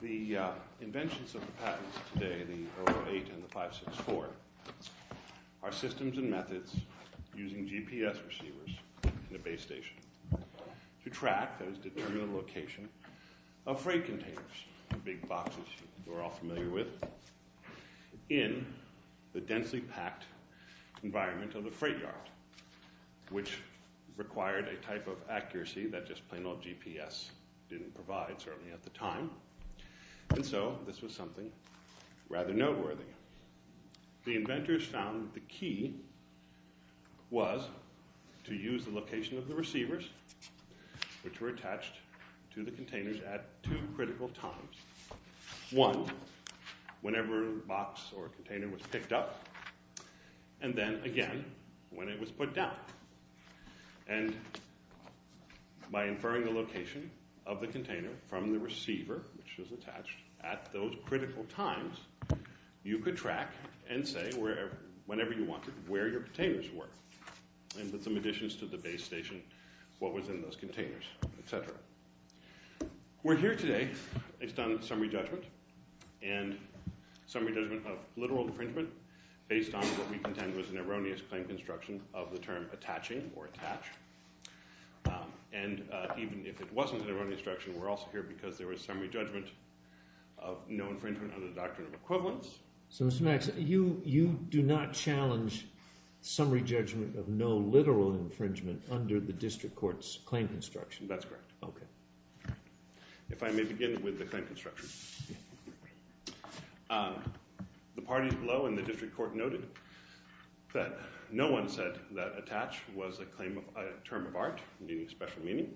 The inventions of the patents today, the 008 and the 564, are systems and methods using GPS receivers in a base station to track, that is, determine the location of freight containers, the big boxes you're all familiar with, in the densely packed environment of the freight yard, which required a type of accuracy that just plain old GPS didn't provide, certainly at the time, and so this was something rather noteworthy. The inventors found that the key was to use the location of the receivers, which were attached to the containers at two critical times. One, whenever a box or container was picked up, and then again when it was put down. And by inferring the location of the container from the receiver, which was attached, at those critical times, you could track and say, whenever you wanted, where your containers were, and put some additions to the base station, what was in those containers, etc. We're here today, it's done summary judgment, and summary judgment of literal infringement, based on what we contend was an erroneous claim construction of the term attaching or attached, and even if it wasn't an erroneous instruction, we're also here because there was summary judgment of no infringement under the doctrine of equivalence. So Mr. Maddox, you do not challenge summary judgment of no literal infringement under the district court's claim construction? That's correct. Okay. If I may begin with the claim construction. The parties below in the district court noted that no one said that attach was a term of art, meaning special meaning.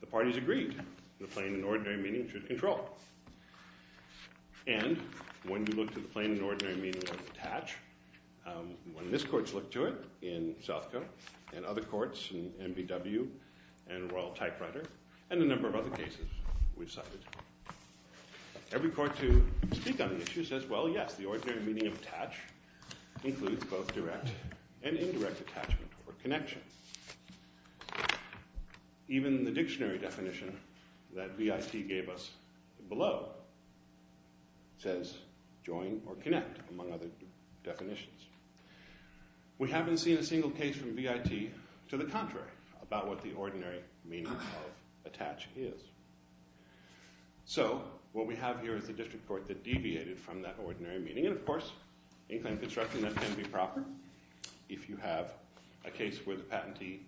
The parties agreed the plain and ordinary meaning should control. And when you look to the plain and ordinary meaning of attach, when this court's looked to it in Southcote and other courts, in MBW and Royal Typewriter, and a number of other cases we've cited, every court to speak on the issue says, well, yes, the ordinary meaning of attach includes both direct and indirect attachment or connection. Even the dictionary definition that BIT gave us below says join or connect, among other definitions. We haven't seen a single case from BIT to the contrary about what the ordinary meaning of attach is. So what we have here is the district court that deviated from that ordinary meaning. And, of course, in claim construction, that can be proper if you have a case where the patentee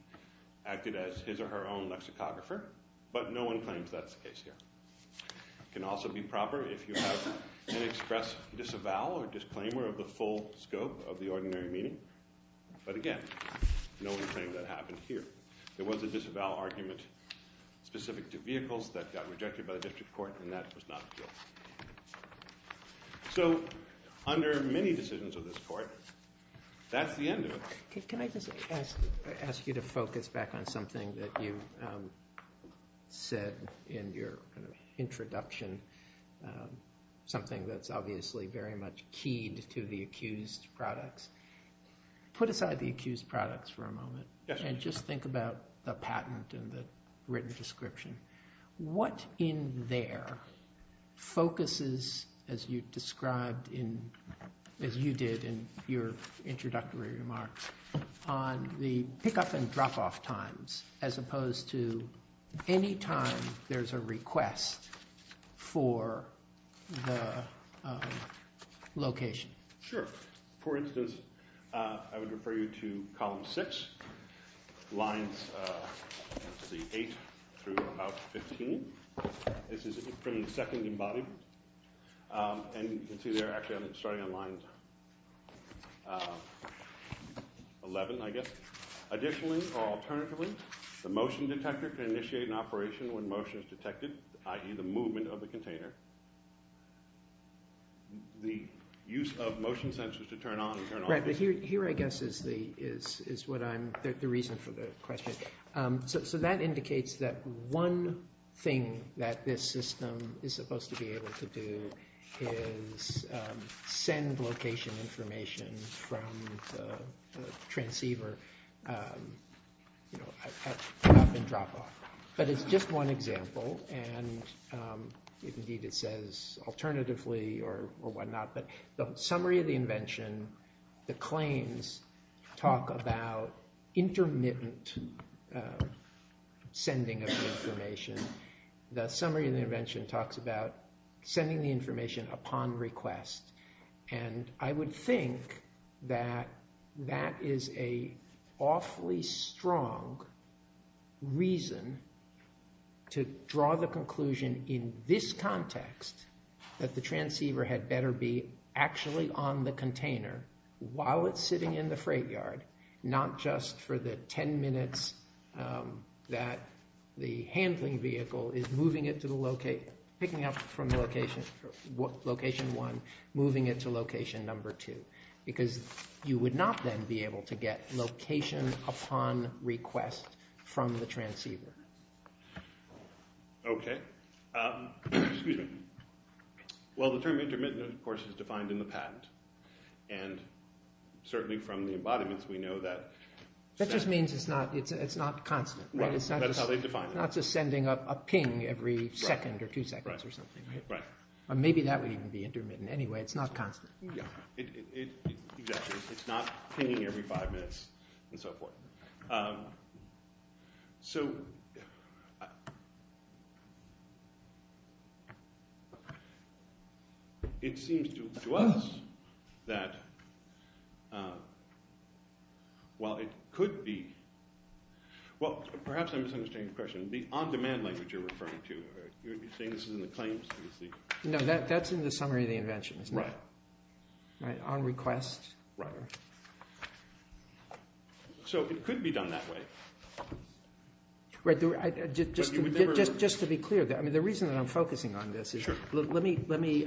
acted as his or her own lexicographer. But no one claims that's the case here. It can also be proper if you have an express disavowal or disclaimer of the full scope of the ordinary meaning. But, again, no one claimed that happened here. There was a disavowal argument specific to vehicles that got rejected by the district court, and that was not appealed. So under many decisions of this court, that's the end of it. Can I just ask you to focus back on something that you said in your introduction, something that's obviously very much keyed to the accused products? Put aside the accused products for a moment. And just think about the patent and the written description. What in there focuses, as you described in – as you did in your introductory remarks, on the pick-up and drop-off times as opposed to any time there's a request for the location? Sure. For instance, I would refer you to column 6, lines 8 through about 15. This is from the second embodiment. And you can see there, actually, I'm starting on line 11, I guess. Additionally, or alternatively, the motion detector can initiate an operation when motion is detected, i.e. the movement of the container. The use of motion sensors to turn on and turn off. Right, but here, I guess, is what I'm – the reason for the question. So that indicates that one thing that this system is supposed to be able to do is send location information from the transceiver at pick-up and drop-off. But it's just one example, and indeed it says alternatively or whatnot. But the summary of the invention, the claims talk about intermittent sending of information. The summary of the invention talks about sending the information upon request. And I would think that that is an awfully strong reason to draw the conclusion in this context that the transceiver had better be actually on the container while it's sitting in the freight yard, not just for the ten minutes that the handling vehicle is moving it to the location – picking up from location one, moving it to location number two. Because you would not then be able to get location upon request from the transceiver. Okay, excuse me. Well, the term intermittent, of course, is defined in the patent. And certainly from the embodiments, we know that – That just means it's not constant, right? Right, that's how they define it. It's not just sending a ping every second or two seconds or something, right? Right. Maybe that would even be intermittent anyway. It's not constant. Yeah, exactly. It's not pinging every five minutes and so forth. So it seems to us that while it could be – well, perhaps I'm misunderstanding the question. The on-demand language you're referring to, you're saying this is in the claims? No, that's in the summary of the invention, isn't it? Right. On request. Right. So it could be done that way. Right. Just to be clear, the reason that I'm focusing on this is – Sure. Let me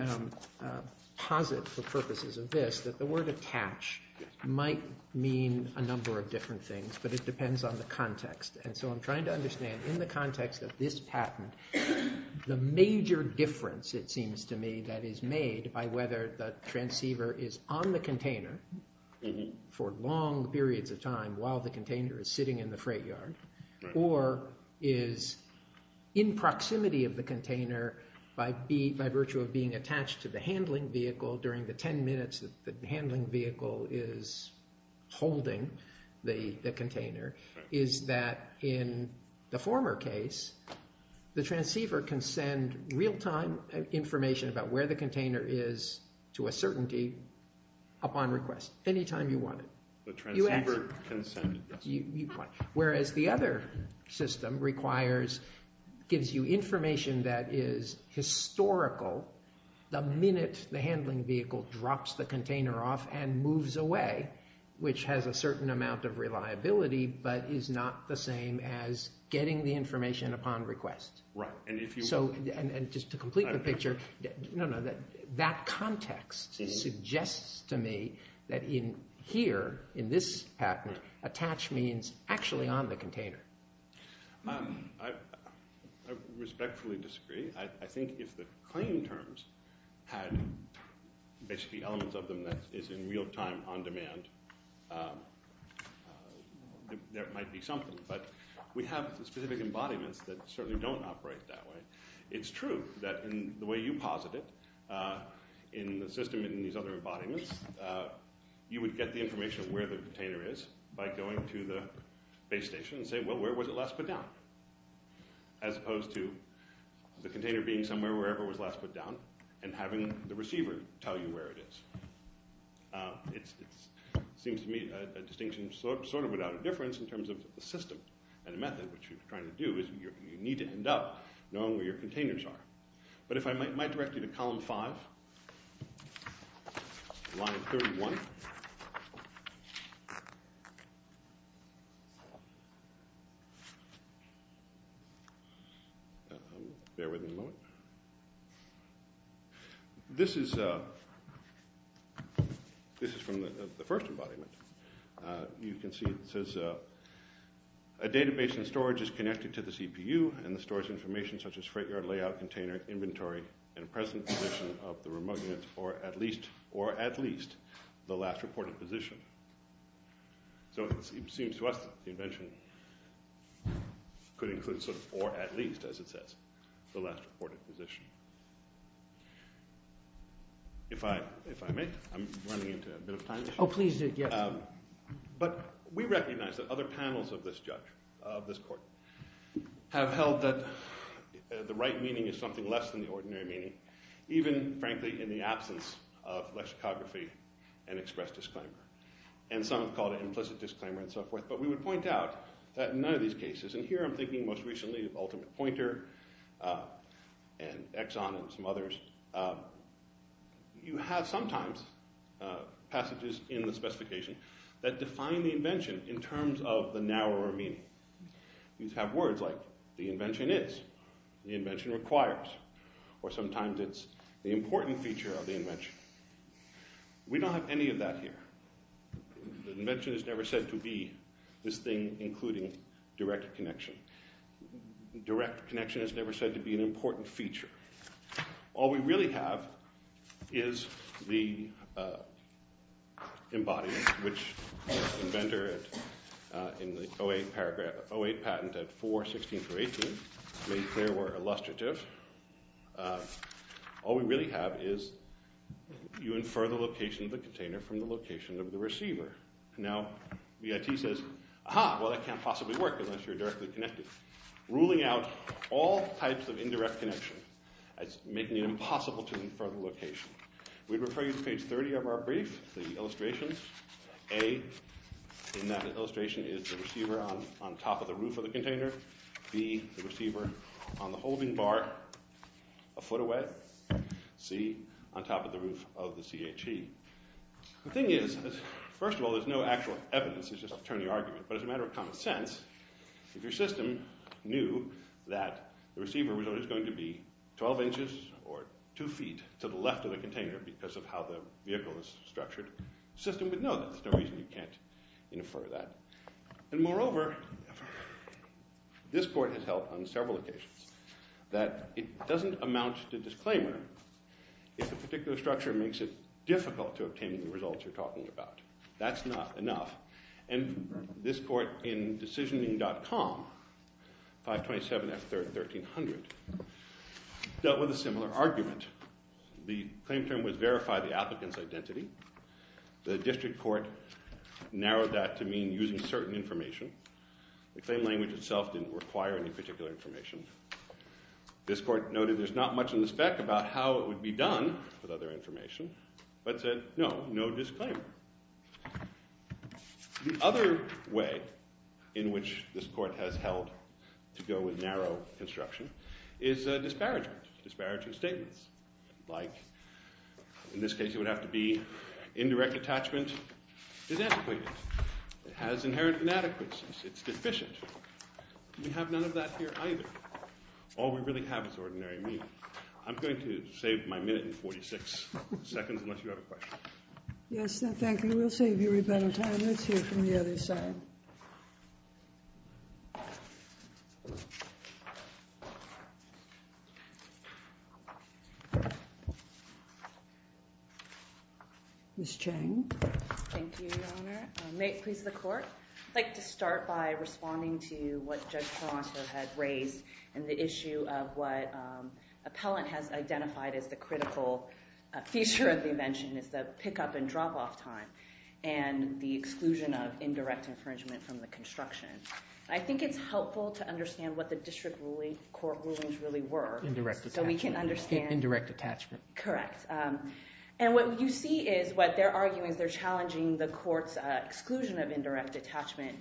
posit for purposes of this that the word attach might mean a number of different things, but it depends on the context. And so I'm trying to understand in the context of this patent, the major difference it seems to me that is made by whether the transceiver is on the container for long periods of time while the container is sitting in the freight yard or is in proximity of the container by virtue of being attached to the handling vehicle during the ten minutes that the handling vehicle is holding the container, is that in the former case, the transceiver can send real-time information about where the container is to a certainty upon request anytime you want it. The transceiver can send – Whereas the other system requires – gives you information that is historical the minute the handling vehicle drops the container off and moves away, which has a certain amount of reliability but is not the same as getting the information upon request. Right. And just to complete the picture, that context suggests to me that in here, in this patent, attach means actually on the container. I respectfully disagree. I think if the claim terms had basically elements of them that is in real-time on demand, that might be something. But we have specific embodiments that certainly don't operate that way. It's true that in the way you posit it in the system in these other embodiments, you would get the information of where the container is by going to the base station and say, well, where was it last put down? As opposed to the container being somewhere wherever it was last put down and having the receiver tell you where it is. It seems to me a distinction sort of without a difference in terms of the system and the method, which you're trying to do is you need to end up knowing where your containers are. But if I might direct you to Column 5, line 31. Bear with me a moment. This is from the first embodiment. You can see it says, a database and storage is connected to the CPU and the storage information such as freight yard layout, container, inventory, and present position of the remote unit or at least the last reported position. So it seems to us that the invention could include sort of or at least, as it says, the last reported position. If I may, I'm running into a bit of time. Oh, please do, yes. But we recognize that other panels of this judge, of this court, have held that the right meaning is something less than the ordinary meaning, even, frankly, in the absence of lexicography and express disclaimer. And some have called it implicit disclaimer and so forth. But we would point out that in none of these cases, and here I'm thinking most recently of ultimate pointer and Exxon and some others, you have sometimes passages in the specification that define the invention in terms of the narrower meaning. These have words like the invention is, the invention requires, or sometimes it's the important feature of the invention. We don't have any of that here. The invention is never said to be this thing including direct connection. Direct connection is never said to be an important feature. All we really have is the embodiment, which the inventor in the 08 patent at 4.16.18 made clear were illustrative. All we really have is you infer the location of the container from the location of the receiver. Now, BIT says, aha, well, that can't possibly work unless you're directly connected. BIT is ruling out all types of indirect connection as making it impossible to infer the location. We refer you to page 30 of our brief, the illustrations. A in that illustration is the receiver on top of the roof of the container. B, the receiver on the holding bar a foot away. C, on top of the roof of the CHE. The thing is, first of all, there's no actual evidence. It's just an attorney argument. But as a matter of common sense, if your system knew that the receiver was always going to be 12 inches or 2 feet to the left of the container because of how the vehicle is structured, the system would know that. There's no reason you can't infer that. And moreover, this court has held on several occasions that it doesn't amount to disclaimer if a particular structure makes it difficult to obtain the results you're talking about. That's not enough. And this court in decisioning.com, 527F1300, dealt with a similar argument. The claim term was verify the applicant's identity. The district court narrowed that to mean using certain information. The claim language itself didn't require any particular information. This court noted there's not much in the spec about how it would be done with other information but said no, no disclaimer. The other way in which this court has held to go with narrow construction is disparaging statements like, in this case, it would have to be indirect attachment is antiquated. It has inherent inadequacies. It's deficient. We have none of that here either. All we really have is ordinary meaning. Yes, thank you. We'll save you a bit of time. Let's hear from the other side. Ms. Chang. Thank you, Your Honor. May it please the court. I'd like to start by responding to what Judge Toronto had raised and the issue of what appellant has identified as the critical feature of the invention is the pickup and drop off time and the exclusion of indirect infringement from the construction. I think it's helpful to understand what the district court rulings really were. Indirect attachment. So we can understand. Indirect attachment. Correct. And what you see is what they're arguing is they're challenging the court's exclusion of any indirect attachment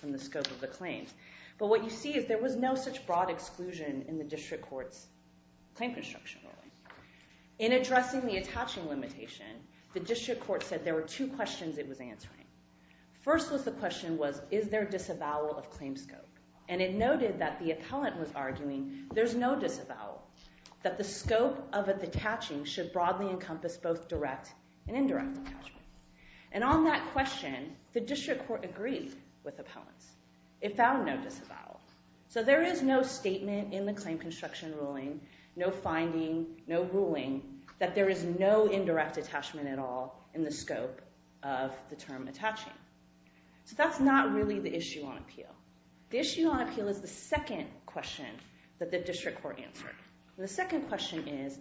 from the scope of the claims. But what you see is there was no such broad exclusion in the district court's claim construction ruling. In addressing the attaching limitation, the district court said there were two questions it was answering. First was the question was, is there disavowal of claim scope? And it noted that the appellant was arguing there's no disavowal, that the scope of the attaching should broadly encompass both direct and indirect attachment. And on that question, the district court agreed with appellants. It found no disavowal. So there is no statement in the claim construction ruling, no finding, no ruling, that there is no indirect attachment at all in the scope of the term attaching. So that's not really the issue on appeal. The issue on appeal is the second question that the district court answered. And the second question is,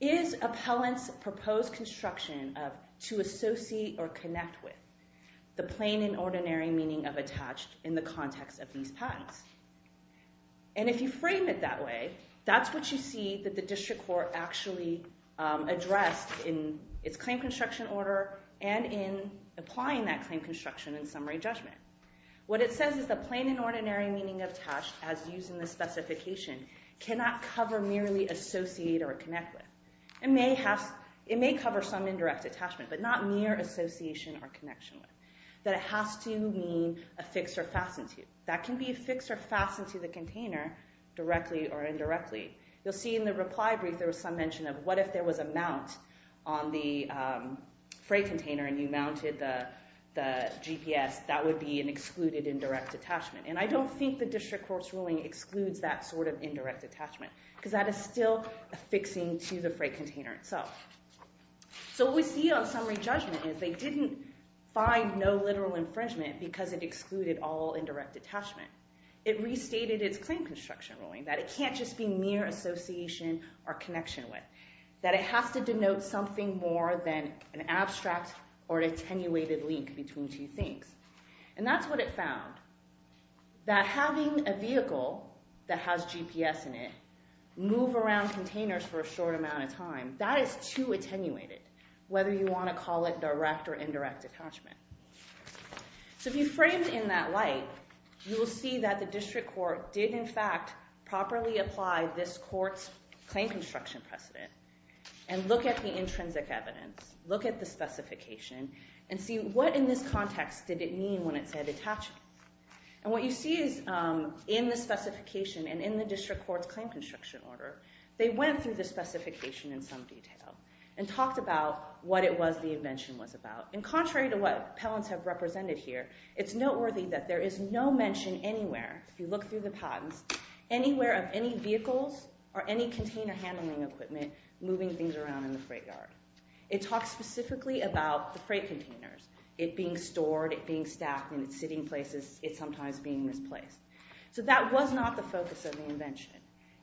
is appellants' proposed construction to associate or connect with the plain and ordinary meaning of attached in the context of these patents? And if you frame it that way, that's what you see that the district court actually addressed in its claim construction order and in applying that claim construction in summary judgment. What it says is the plain and ordinary meaning of attached, as used in the specification, cannot cover merely associate or connect with. It may cover some indirect attachment, but not mere association or connection with. That it has to mean affix or fasten to. That can be affixed or fastened to the container directly or indirectly. You'll see in the reply brief there was some mention of what if there was a mount on the freight container and you mounted the GPS, that would be an excluded indirect attachment. And I don't think the district court's ruling excludes that sort of indirect attachment because that is still affixing to the freight container itself. So what we see on summary judgment is they didn't find no literal infringement because it excluded all indirect attachment. It restated its claim construction ruling, that it can't just be mere association or connection with, that it has to denote something more than an abstract or an attenuated link between two things. And that's what it found, that having a vehicle that has GPS in it move around containers for a short amount of time, that is too attenuated, whether you want to call it direct or indirect attachment. So if you frame it in that light, you will see that the district court did in fact properly apply this court's claim construction precedent and look at the intrinsic evidence, look at the specification, and see what in this context did it mean when it said attachment. And what you see is in the specification and in the district court's claim construction order, they went through the specification in some detail and talked about what it was the invention was about. And contrary to what appellants have represented here, it's noteworthy that there is no mention anywhere, if you look through the patents, anywhere of any vehicles or any container-handling equipment moving things around in the freight yard. It talks specifically about the freight containers, it being stored, it being stacked in sitting places, it sometimes being misplaced. So that was not the focus of the invention.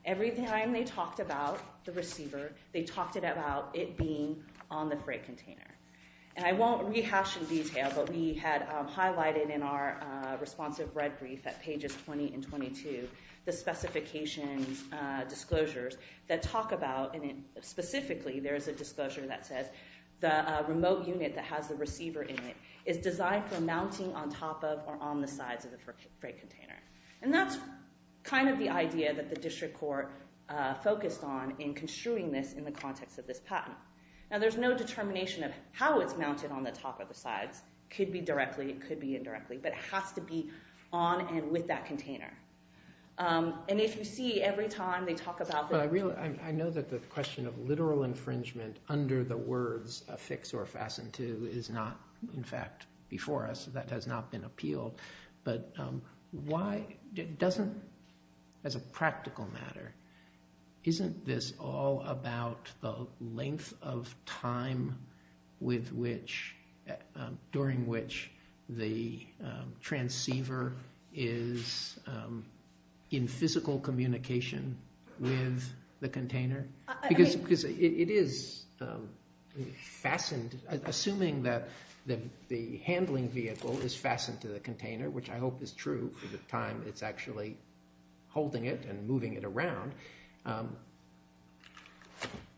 Every time they talked about the receiver, they talked about it being on the freight container. And I won't rehash in detail, but we had highlighted in our responsive red brief at pages 20 and 22, the specifications disclosures that talk about, and specifically there is a disclosure that says the remote unit that has the receiver in it is designed for mounting on top of or on the sides of the freight container. And that's kind of the idea that the district court focused on in construing this in the context of this patent. Now there's no determination of how it's mounted on the top or the sides. It could be directly, it could be indirectly, but it has to be on and with that container. And if you see every time they talk about... I know that the question of literal infringement under the words affix or fasten to is not, in fact, before us. That has not been appealed. But why doesn't, as a practical matter, isn't this all about the length of time during which the transceiver is in physical communication with the container? Because it is fastened... Assuming that the handling vehicle is fastened to the container, which I hope is true for the time it's actually holding it and moving it around.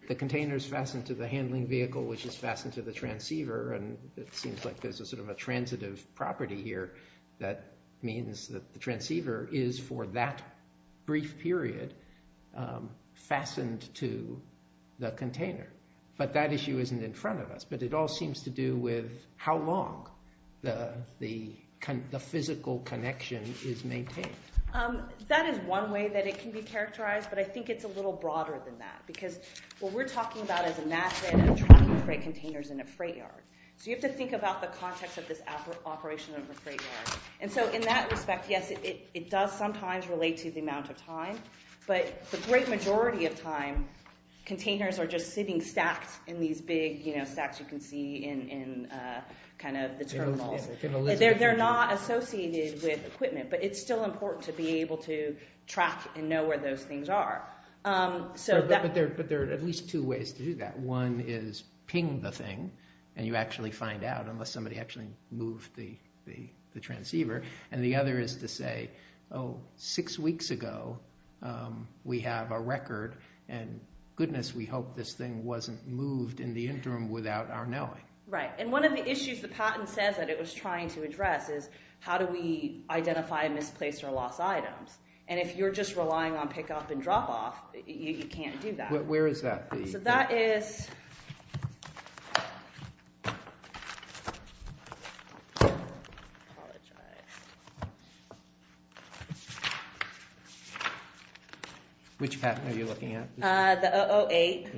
The container is fastened to the handling vehicle, which is fastened to the transceiver. And it seems like there's a sort of a transitive property here that means that the transceiver is for that brief period fastened to the container. But that issue isn't in front of us. But it all seems to do with how long the physical connection is maintained. That is one way that it can be characterized. But I think it's a little broader than that. Because what we're talking about is a method of tracking freight containers in a freight yard. So you have to think about the context of this operation of a freight yard. And so in that respect, yes, it does sometimes relate to the amount of time. But the great majority of time, containers are just sitting stacked in these big stacks you can see in kind of the terminals. They're not associated with equipment. But it's still important to be able to track and know where those things are. But there are at least two ways to do that. One is ping the thing, and you actually find out unless somebody actually moved the transceiver. And the other is to say, oh, six weeks ago, we have a record. And goodness, we hope this thing wasn't moved in the interim without our knowing. Right, and one of the issues the patent says that it was trying to address is how do we identify misplaced or lost items? And if you're just relying on pickup and drop-off, you can't do that. Where is that? So that is... Apologize. Which patent are you looking at? The 008.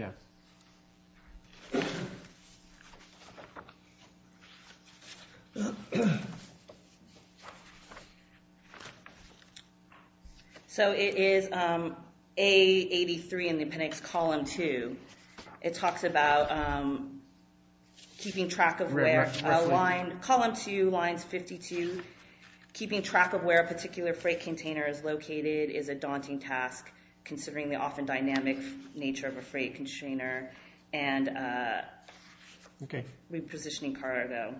So it is A83 in the appendix column 2. It talks about keeping track of where... Column 2, lines 52, keeping track of where a particular freight container is located is a daunting task considering the often dynamic nature of a freight container and repositioning cargo.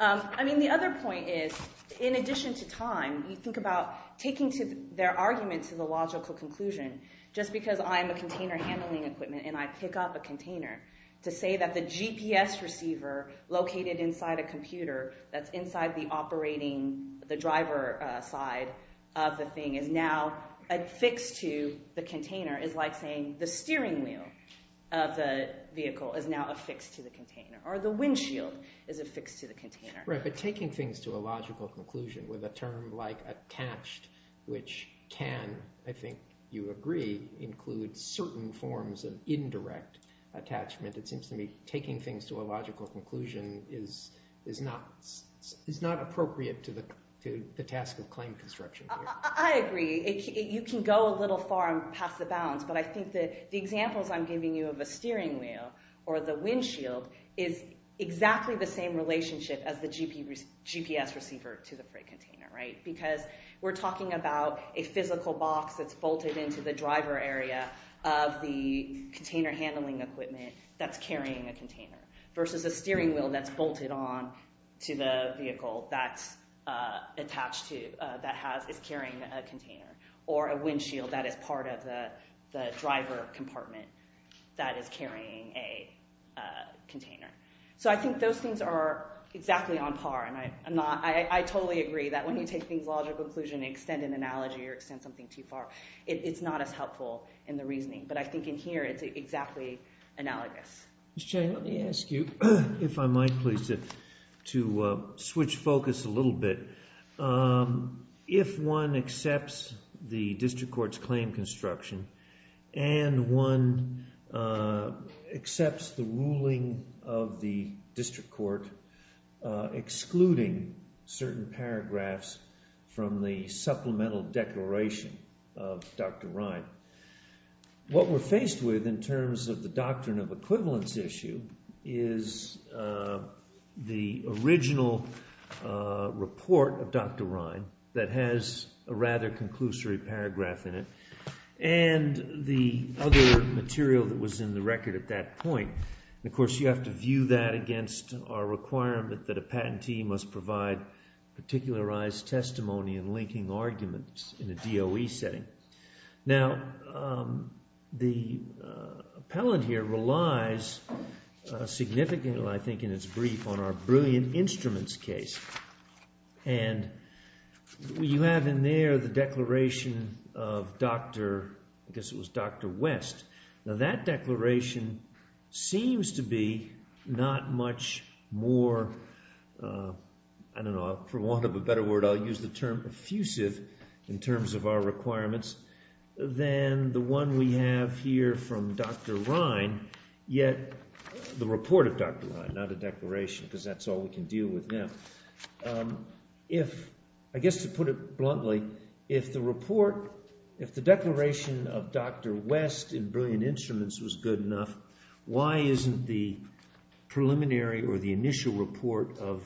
I mean, the other point is, in addition to time, you think about taking their argument to the logical conclusion. Just because I'm a container handling equipment and I pick up a container, to say that the GPS receiver located inside a computer that's inside the operating... the driver side of the thing is now affixed to the container is like saying the steering wheel of the vehicle is now affixed to the container or the windshield is affixed to the container. Right, but taking things to a logical conclusion with a term like attached, which can, I think you agree, include certain forms of indirect attachment. It seems to me taking things to a logical conclusion is not appropriate to the task of claim construction. I agree. You can go a little far and pass the bounds, but I think the examples I'm giving you of a steering wheel or the windshield is exactly the same relationship as the GPS receiver to the freight container, right? Because we're talking about a physical box that's bolted into the driver area of the container handling equipment that's carrying a container versus a steering wheel that's bolted on to the vehicle that's attached to... that is carrying a container or a windshield that is part of the driver compartment that is carrying a container. So I think those things are exactly on par and I totally agree that when you take things to a logical conclusion and extend an analogy or extend something too far, it's not as helpful in the reasoning. But I think in here it's exactly analogous. Ms. Chang, let me ask you, if I might please, to switch focus a little bit. If one accepts the district court's claim construction and one accepts the ruling of the district court excluding certain paragraphs from the supplemental declaration of Dr. Ryan, what we're faced with in terms of the doctrine of equivalence issue is the original report of Dr. Ryan that has a rather conclusory paragraph in it and the other material that was in the record at that point. And of course you have to view that against our requirement that a patentee must provide particularized testimony in linking arguments in a DOE setting. Now, the appellant here relies significantly, I think in its brief, on our brilliant instruments case. And you have in there the declaration of Dr., I guess it was Dr. West. Now, that declaration seems to be not much more, I don't know, for want of a better word, I'll use the term effusive in terms of our requirements, than the one we have here from Dr. Ryan, yet the report of Dr. Ryan, not a declaration, because that's all we can deal with now. If, I guess to put it bluntly, if the report, if the declaration of Dr. West in brilliant instruments was good enough, why isn't the preliminary or the initial report of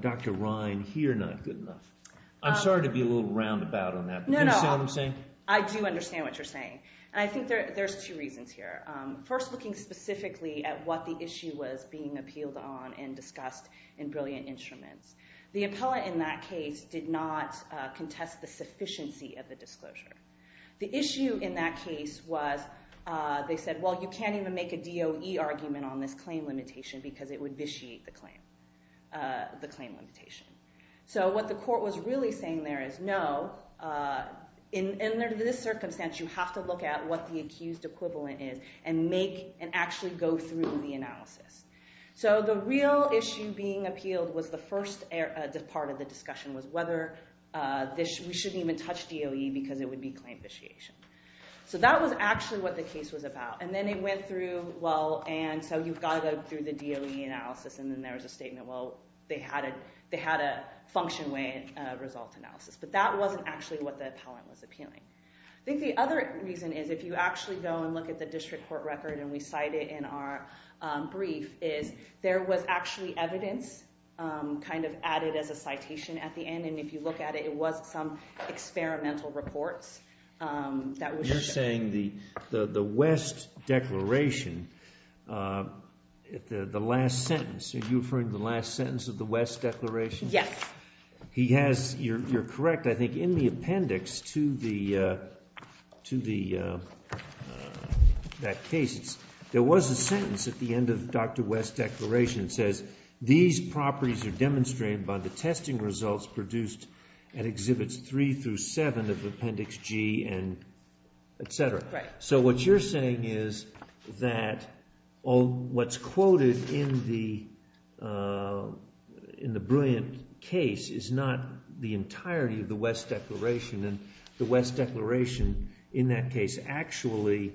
Dr. Ryan here not good enough? I'm sorry to be a little roundabout on that, but do you understand what I'm saying? No, no, I do understand what you're saying. And I think there's two reasons here. First, looking specifically at what the issue was being appealed on and discussed in brilliant instruments. The appellant in that case did not contest the sufficiency of the disclosure. The issue in that case was, they said, well, you can't even make a DOE argument on this claim limitation because it would vitiate the claim, the claim limitation. So what the court was really saying there is, no, in this circumstance, you have to look at what the accused equivalent is and make, and actually go through the analysis. So the real issue being appealed was the first part of the discussion was whether we shouldn't even touch DOE because it would be claim vitiation. So that was actually what the case was about. And then they went through, well, and so you've got to go through the DOE analysis. And then there was a statement, well, they had a function way result analysis. But that wasn't actually what the appellant was appealing. I think the other reason is, if you actually go and look at the district court record, and we cite it in our brief, is there was actually evidence kind of added as a citation at the end. And if you look at it, it was some experimental reports that were shown. You're saying the West declaration, the last sentence, are you referring to the last sentence of the West declaration? Yes. He has, you're correct, I think, in the appendix to that case, there was a sentence at the end of Dr. West's declaration that says, these properties are demonstrated by the testing results produced at exhibits three through seven of appendix G and et cetera. So what you're saying is that what's quoted in the brilliant case is not the entirety of the West declaration. And the West declaration in that case actually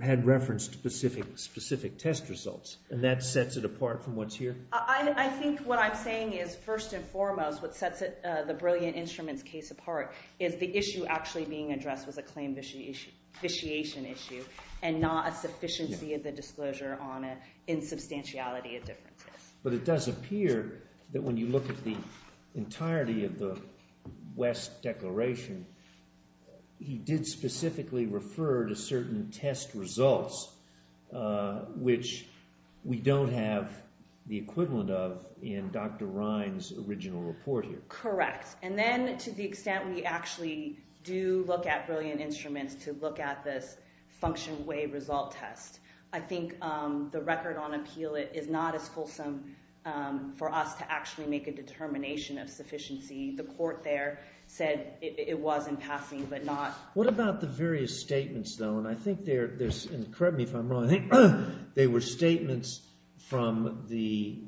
had reference to specific test results. And that sets it apart from what's here? I think what I'm saying is, first and foremost, what sets the brilliant instruments case apart is the issue actually being addressed was a claim vitiation issue and not a sufficiency of the disclosure on an insubstantiality of differences. But it does appear that when you look at the entirety of the West declaration, he did specifically refer to certain test results, which we don't have the equivalent of in Dr. Ryan's original report here. Correct. And then to the extent we actually do look at brilliant instruments to look at this function way result test, I think the record on appeal a determination of sufficiency. The court there said it was in passing, but not. What about the various statements, though? And correct me if I'm wrong. I think they were statements from the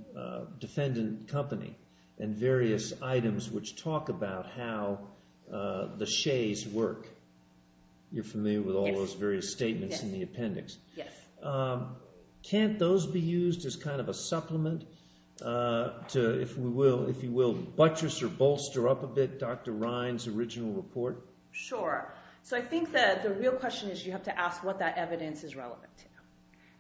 defendant company and various items which talk about how the Shays work. You're familiar with all those various statements in the appendix. Yes. Can't those be used as kind of a supplement to, if you will, buttress or bolster up a bit Dr. Ryan's original report? Sure. So I think the real question is you have to ask what that evidence is relevant to.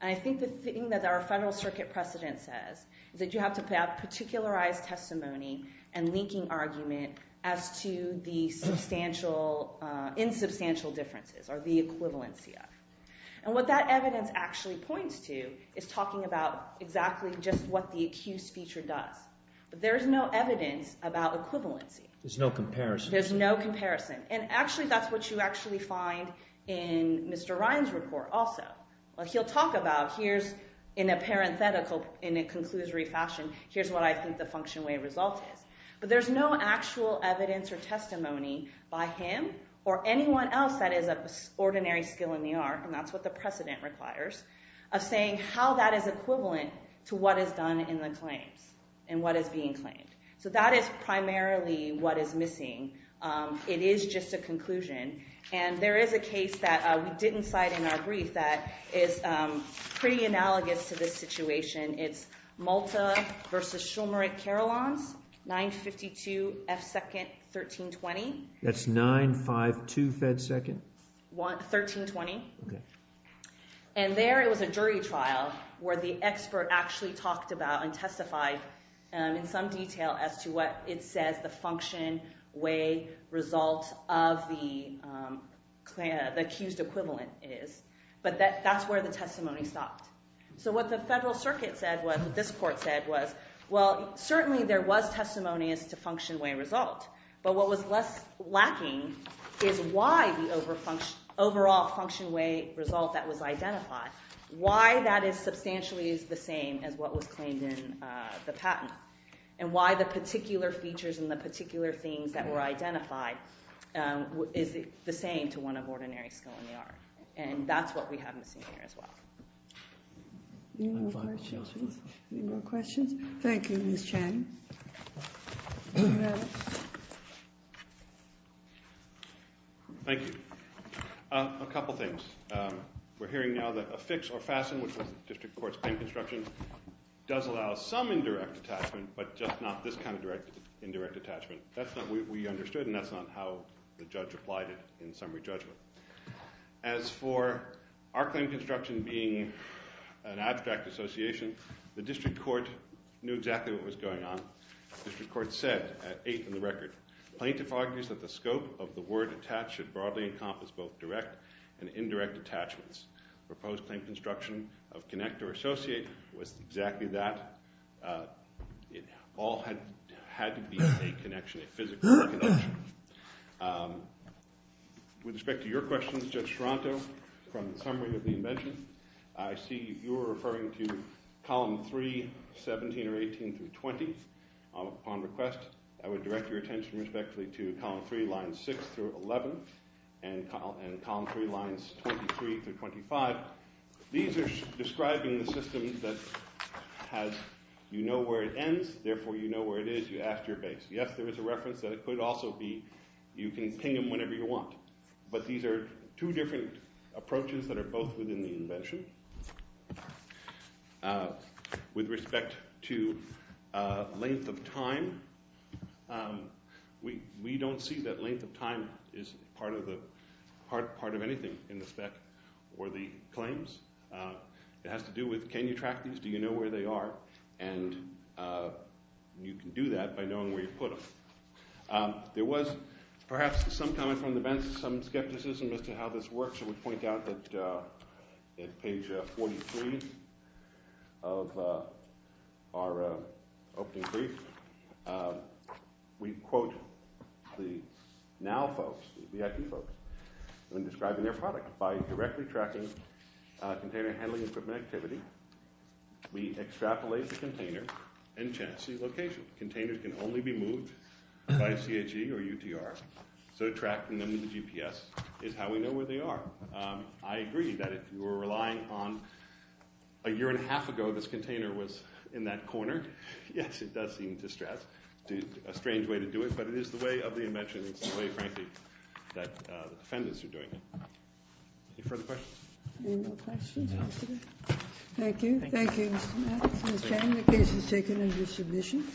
And I think the thing that our Federal Circuit precedent says is that you have to have particularized testimony and linking argument as to the insubstantial differences, or the equivalency of. And what that evidence actually points to is talking about exactly just what the accused feature does. But there is no evidence about equivalency. There's no comparison. There's no comparison. And actually, that's what you actually find in Mr. Ryan's report also. He'll talk about, here's in a parenthetical, in a conclusory fashion, here's what I think the function way result is. But there's no actual evidence or testimony by him or anyone else that is of ordinary skill in the art, and that's what the precedent requires, of saying how that is equivalent to what is done in the claims and what is being claimed. So that is primarily what is missing. It is just a conclusion. And there is a case that we didn't cite in our brief that is pretty analogous to this situation. It's Malta versus Shulmuric-Carolines, 952 F. Second, 1320. That's 952 F. Second? 1320. And there, it was a jury trial where the expert actually talked about and testified in some detail as to what it says the function way result of the accused equivalent is. But that's where the testimony stopped. So what the federal circuit said was, what this court said was, well, certainly there was testimony as to function way result. But what was less lacking is why the overall function way result that was identified, why that substantially is the same as what was claimed in the patent, and why the particular features and the particular things that were identified is the same to one of ordinary skill in the art. And that's what we have missing here as well. Any more questions? Thank you, Ms. Channing. Thank you. A couple things. We're hearing now that a fix or fasten, which was the district court's claim construction, does allow some indirect attachment, but just not this kind of indirect attachment. That's not what we understood, and that's not how the judge applied it in summary judgment. As for our claim construction being an abstract association, the district court knew exactly what was going on. The district court said, at 8th in the record, plaintiff argues that the scope of the word attached should broadly encompass both direct and indirect attachments. Proposed claim construction of connect or associate was exactly that. It all had to be a connection, a physical connection. With respect to your questions, Judge Toronto, from the summary of the invention, I see you were referring to column 3, 17 or 18 through 20. Upon request, I would direct your attention respectfully to column 3, lines 6 through 11 and column 3, lines 23 through 25. These are describing the system that has, you know where it ends, therefore you know where it is, you ask your base. Yes, there is a reference that it could also be you can ping them whenever you want, but these are two different approaches that are both within the invention. With respect to length of time, we don't see that length of time is part of anything in the spec or the claims. It has to do with can you track these, do you know where they are, and you can do that by knowing where you put them. There was perhaps some comment from the bench, some skepticism as to how this works, and we point out that page 43 of our opening brief, we quote the now folks, the IT folks, when describing their product, by directly tracking container handling equipment activity, we extrapolate the container and chance the location. Containers can only be moved by CHE or UTR, so tracking them with a GPS is how we know where they are. I agree that if you were relying on a year and a half ago, this container was in that corner, yes, it does seem distressed. A strange way to do it, but it is the way of the invention, it's the way, frankly, that the defendants are doing it. Any further questions? Thank you. The case is taken under submission.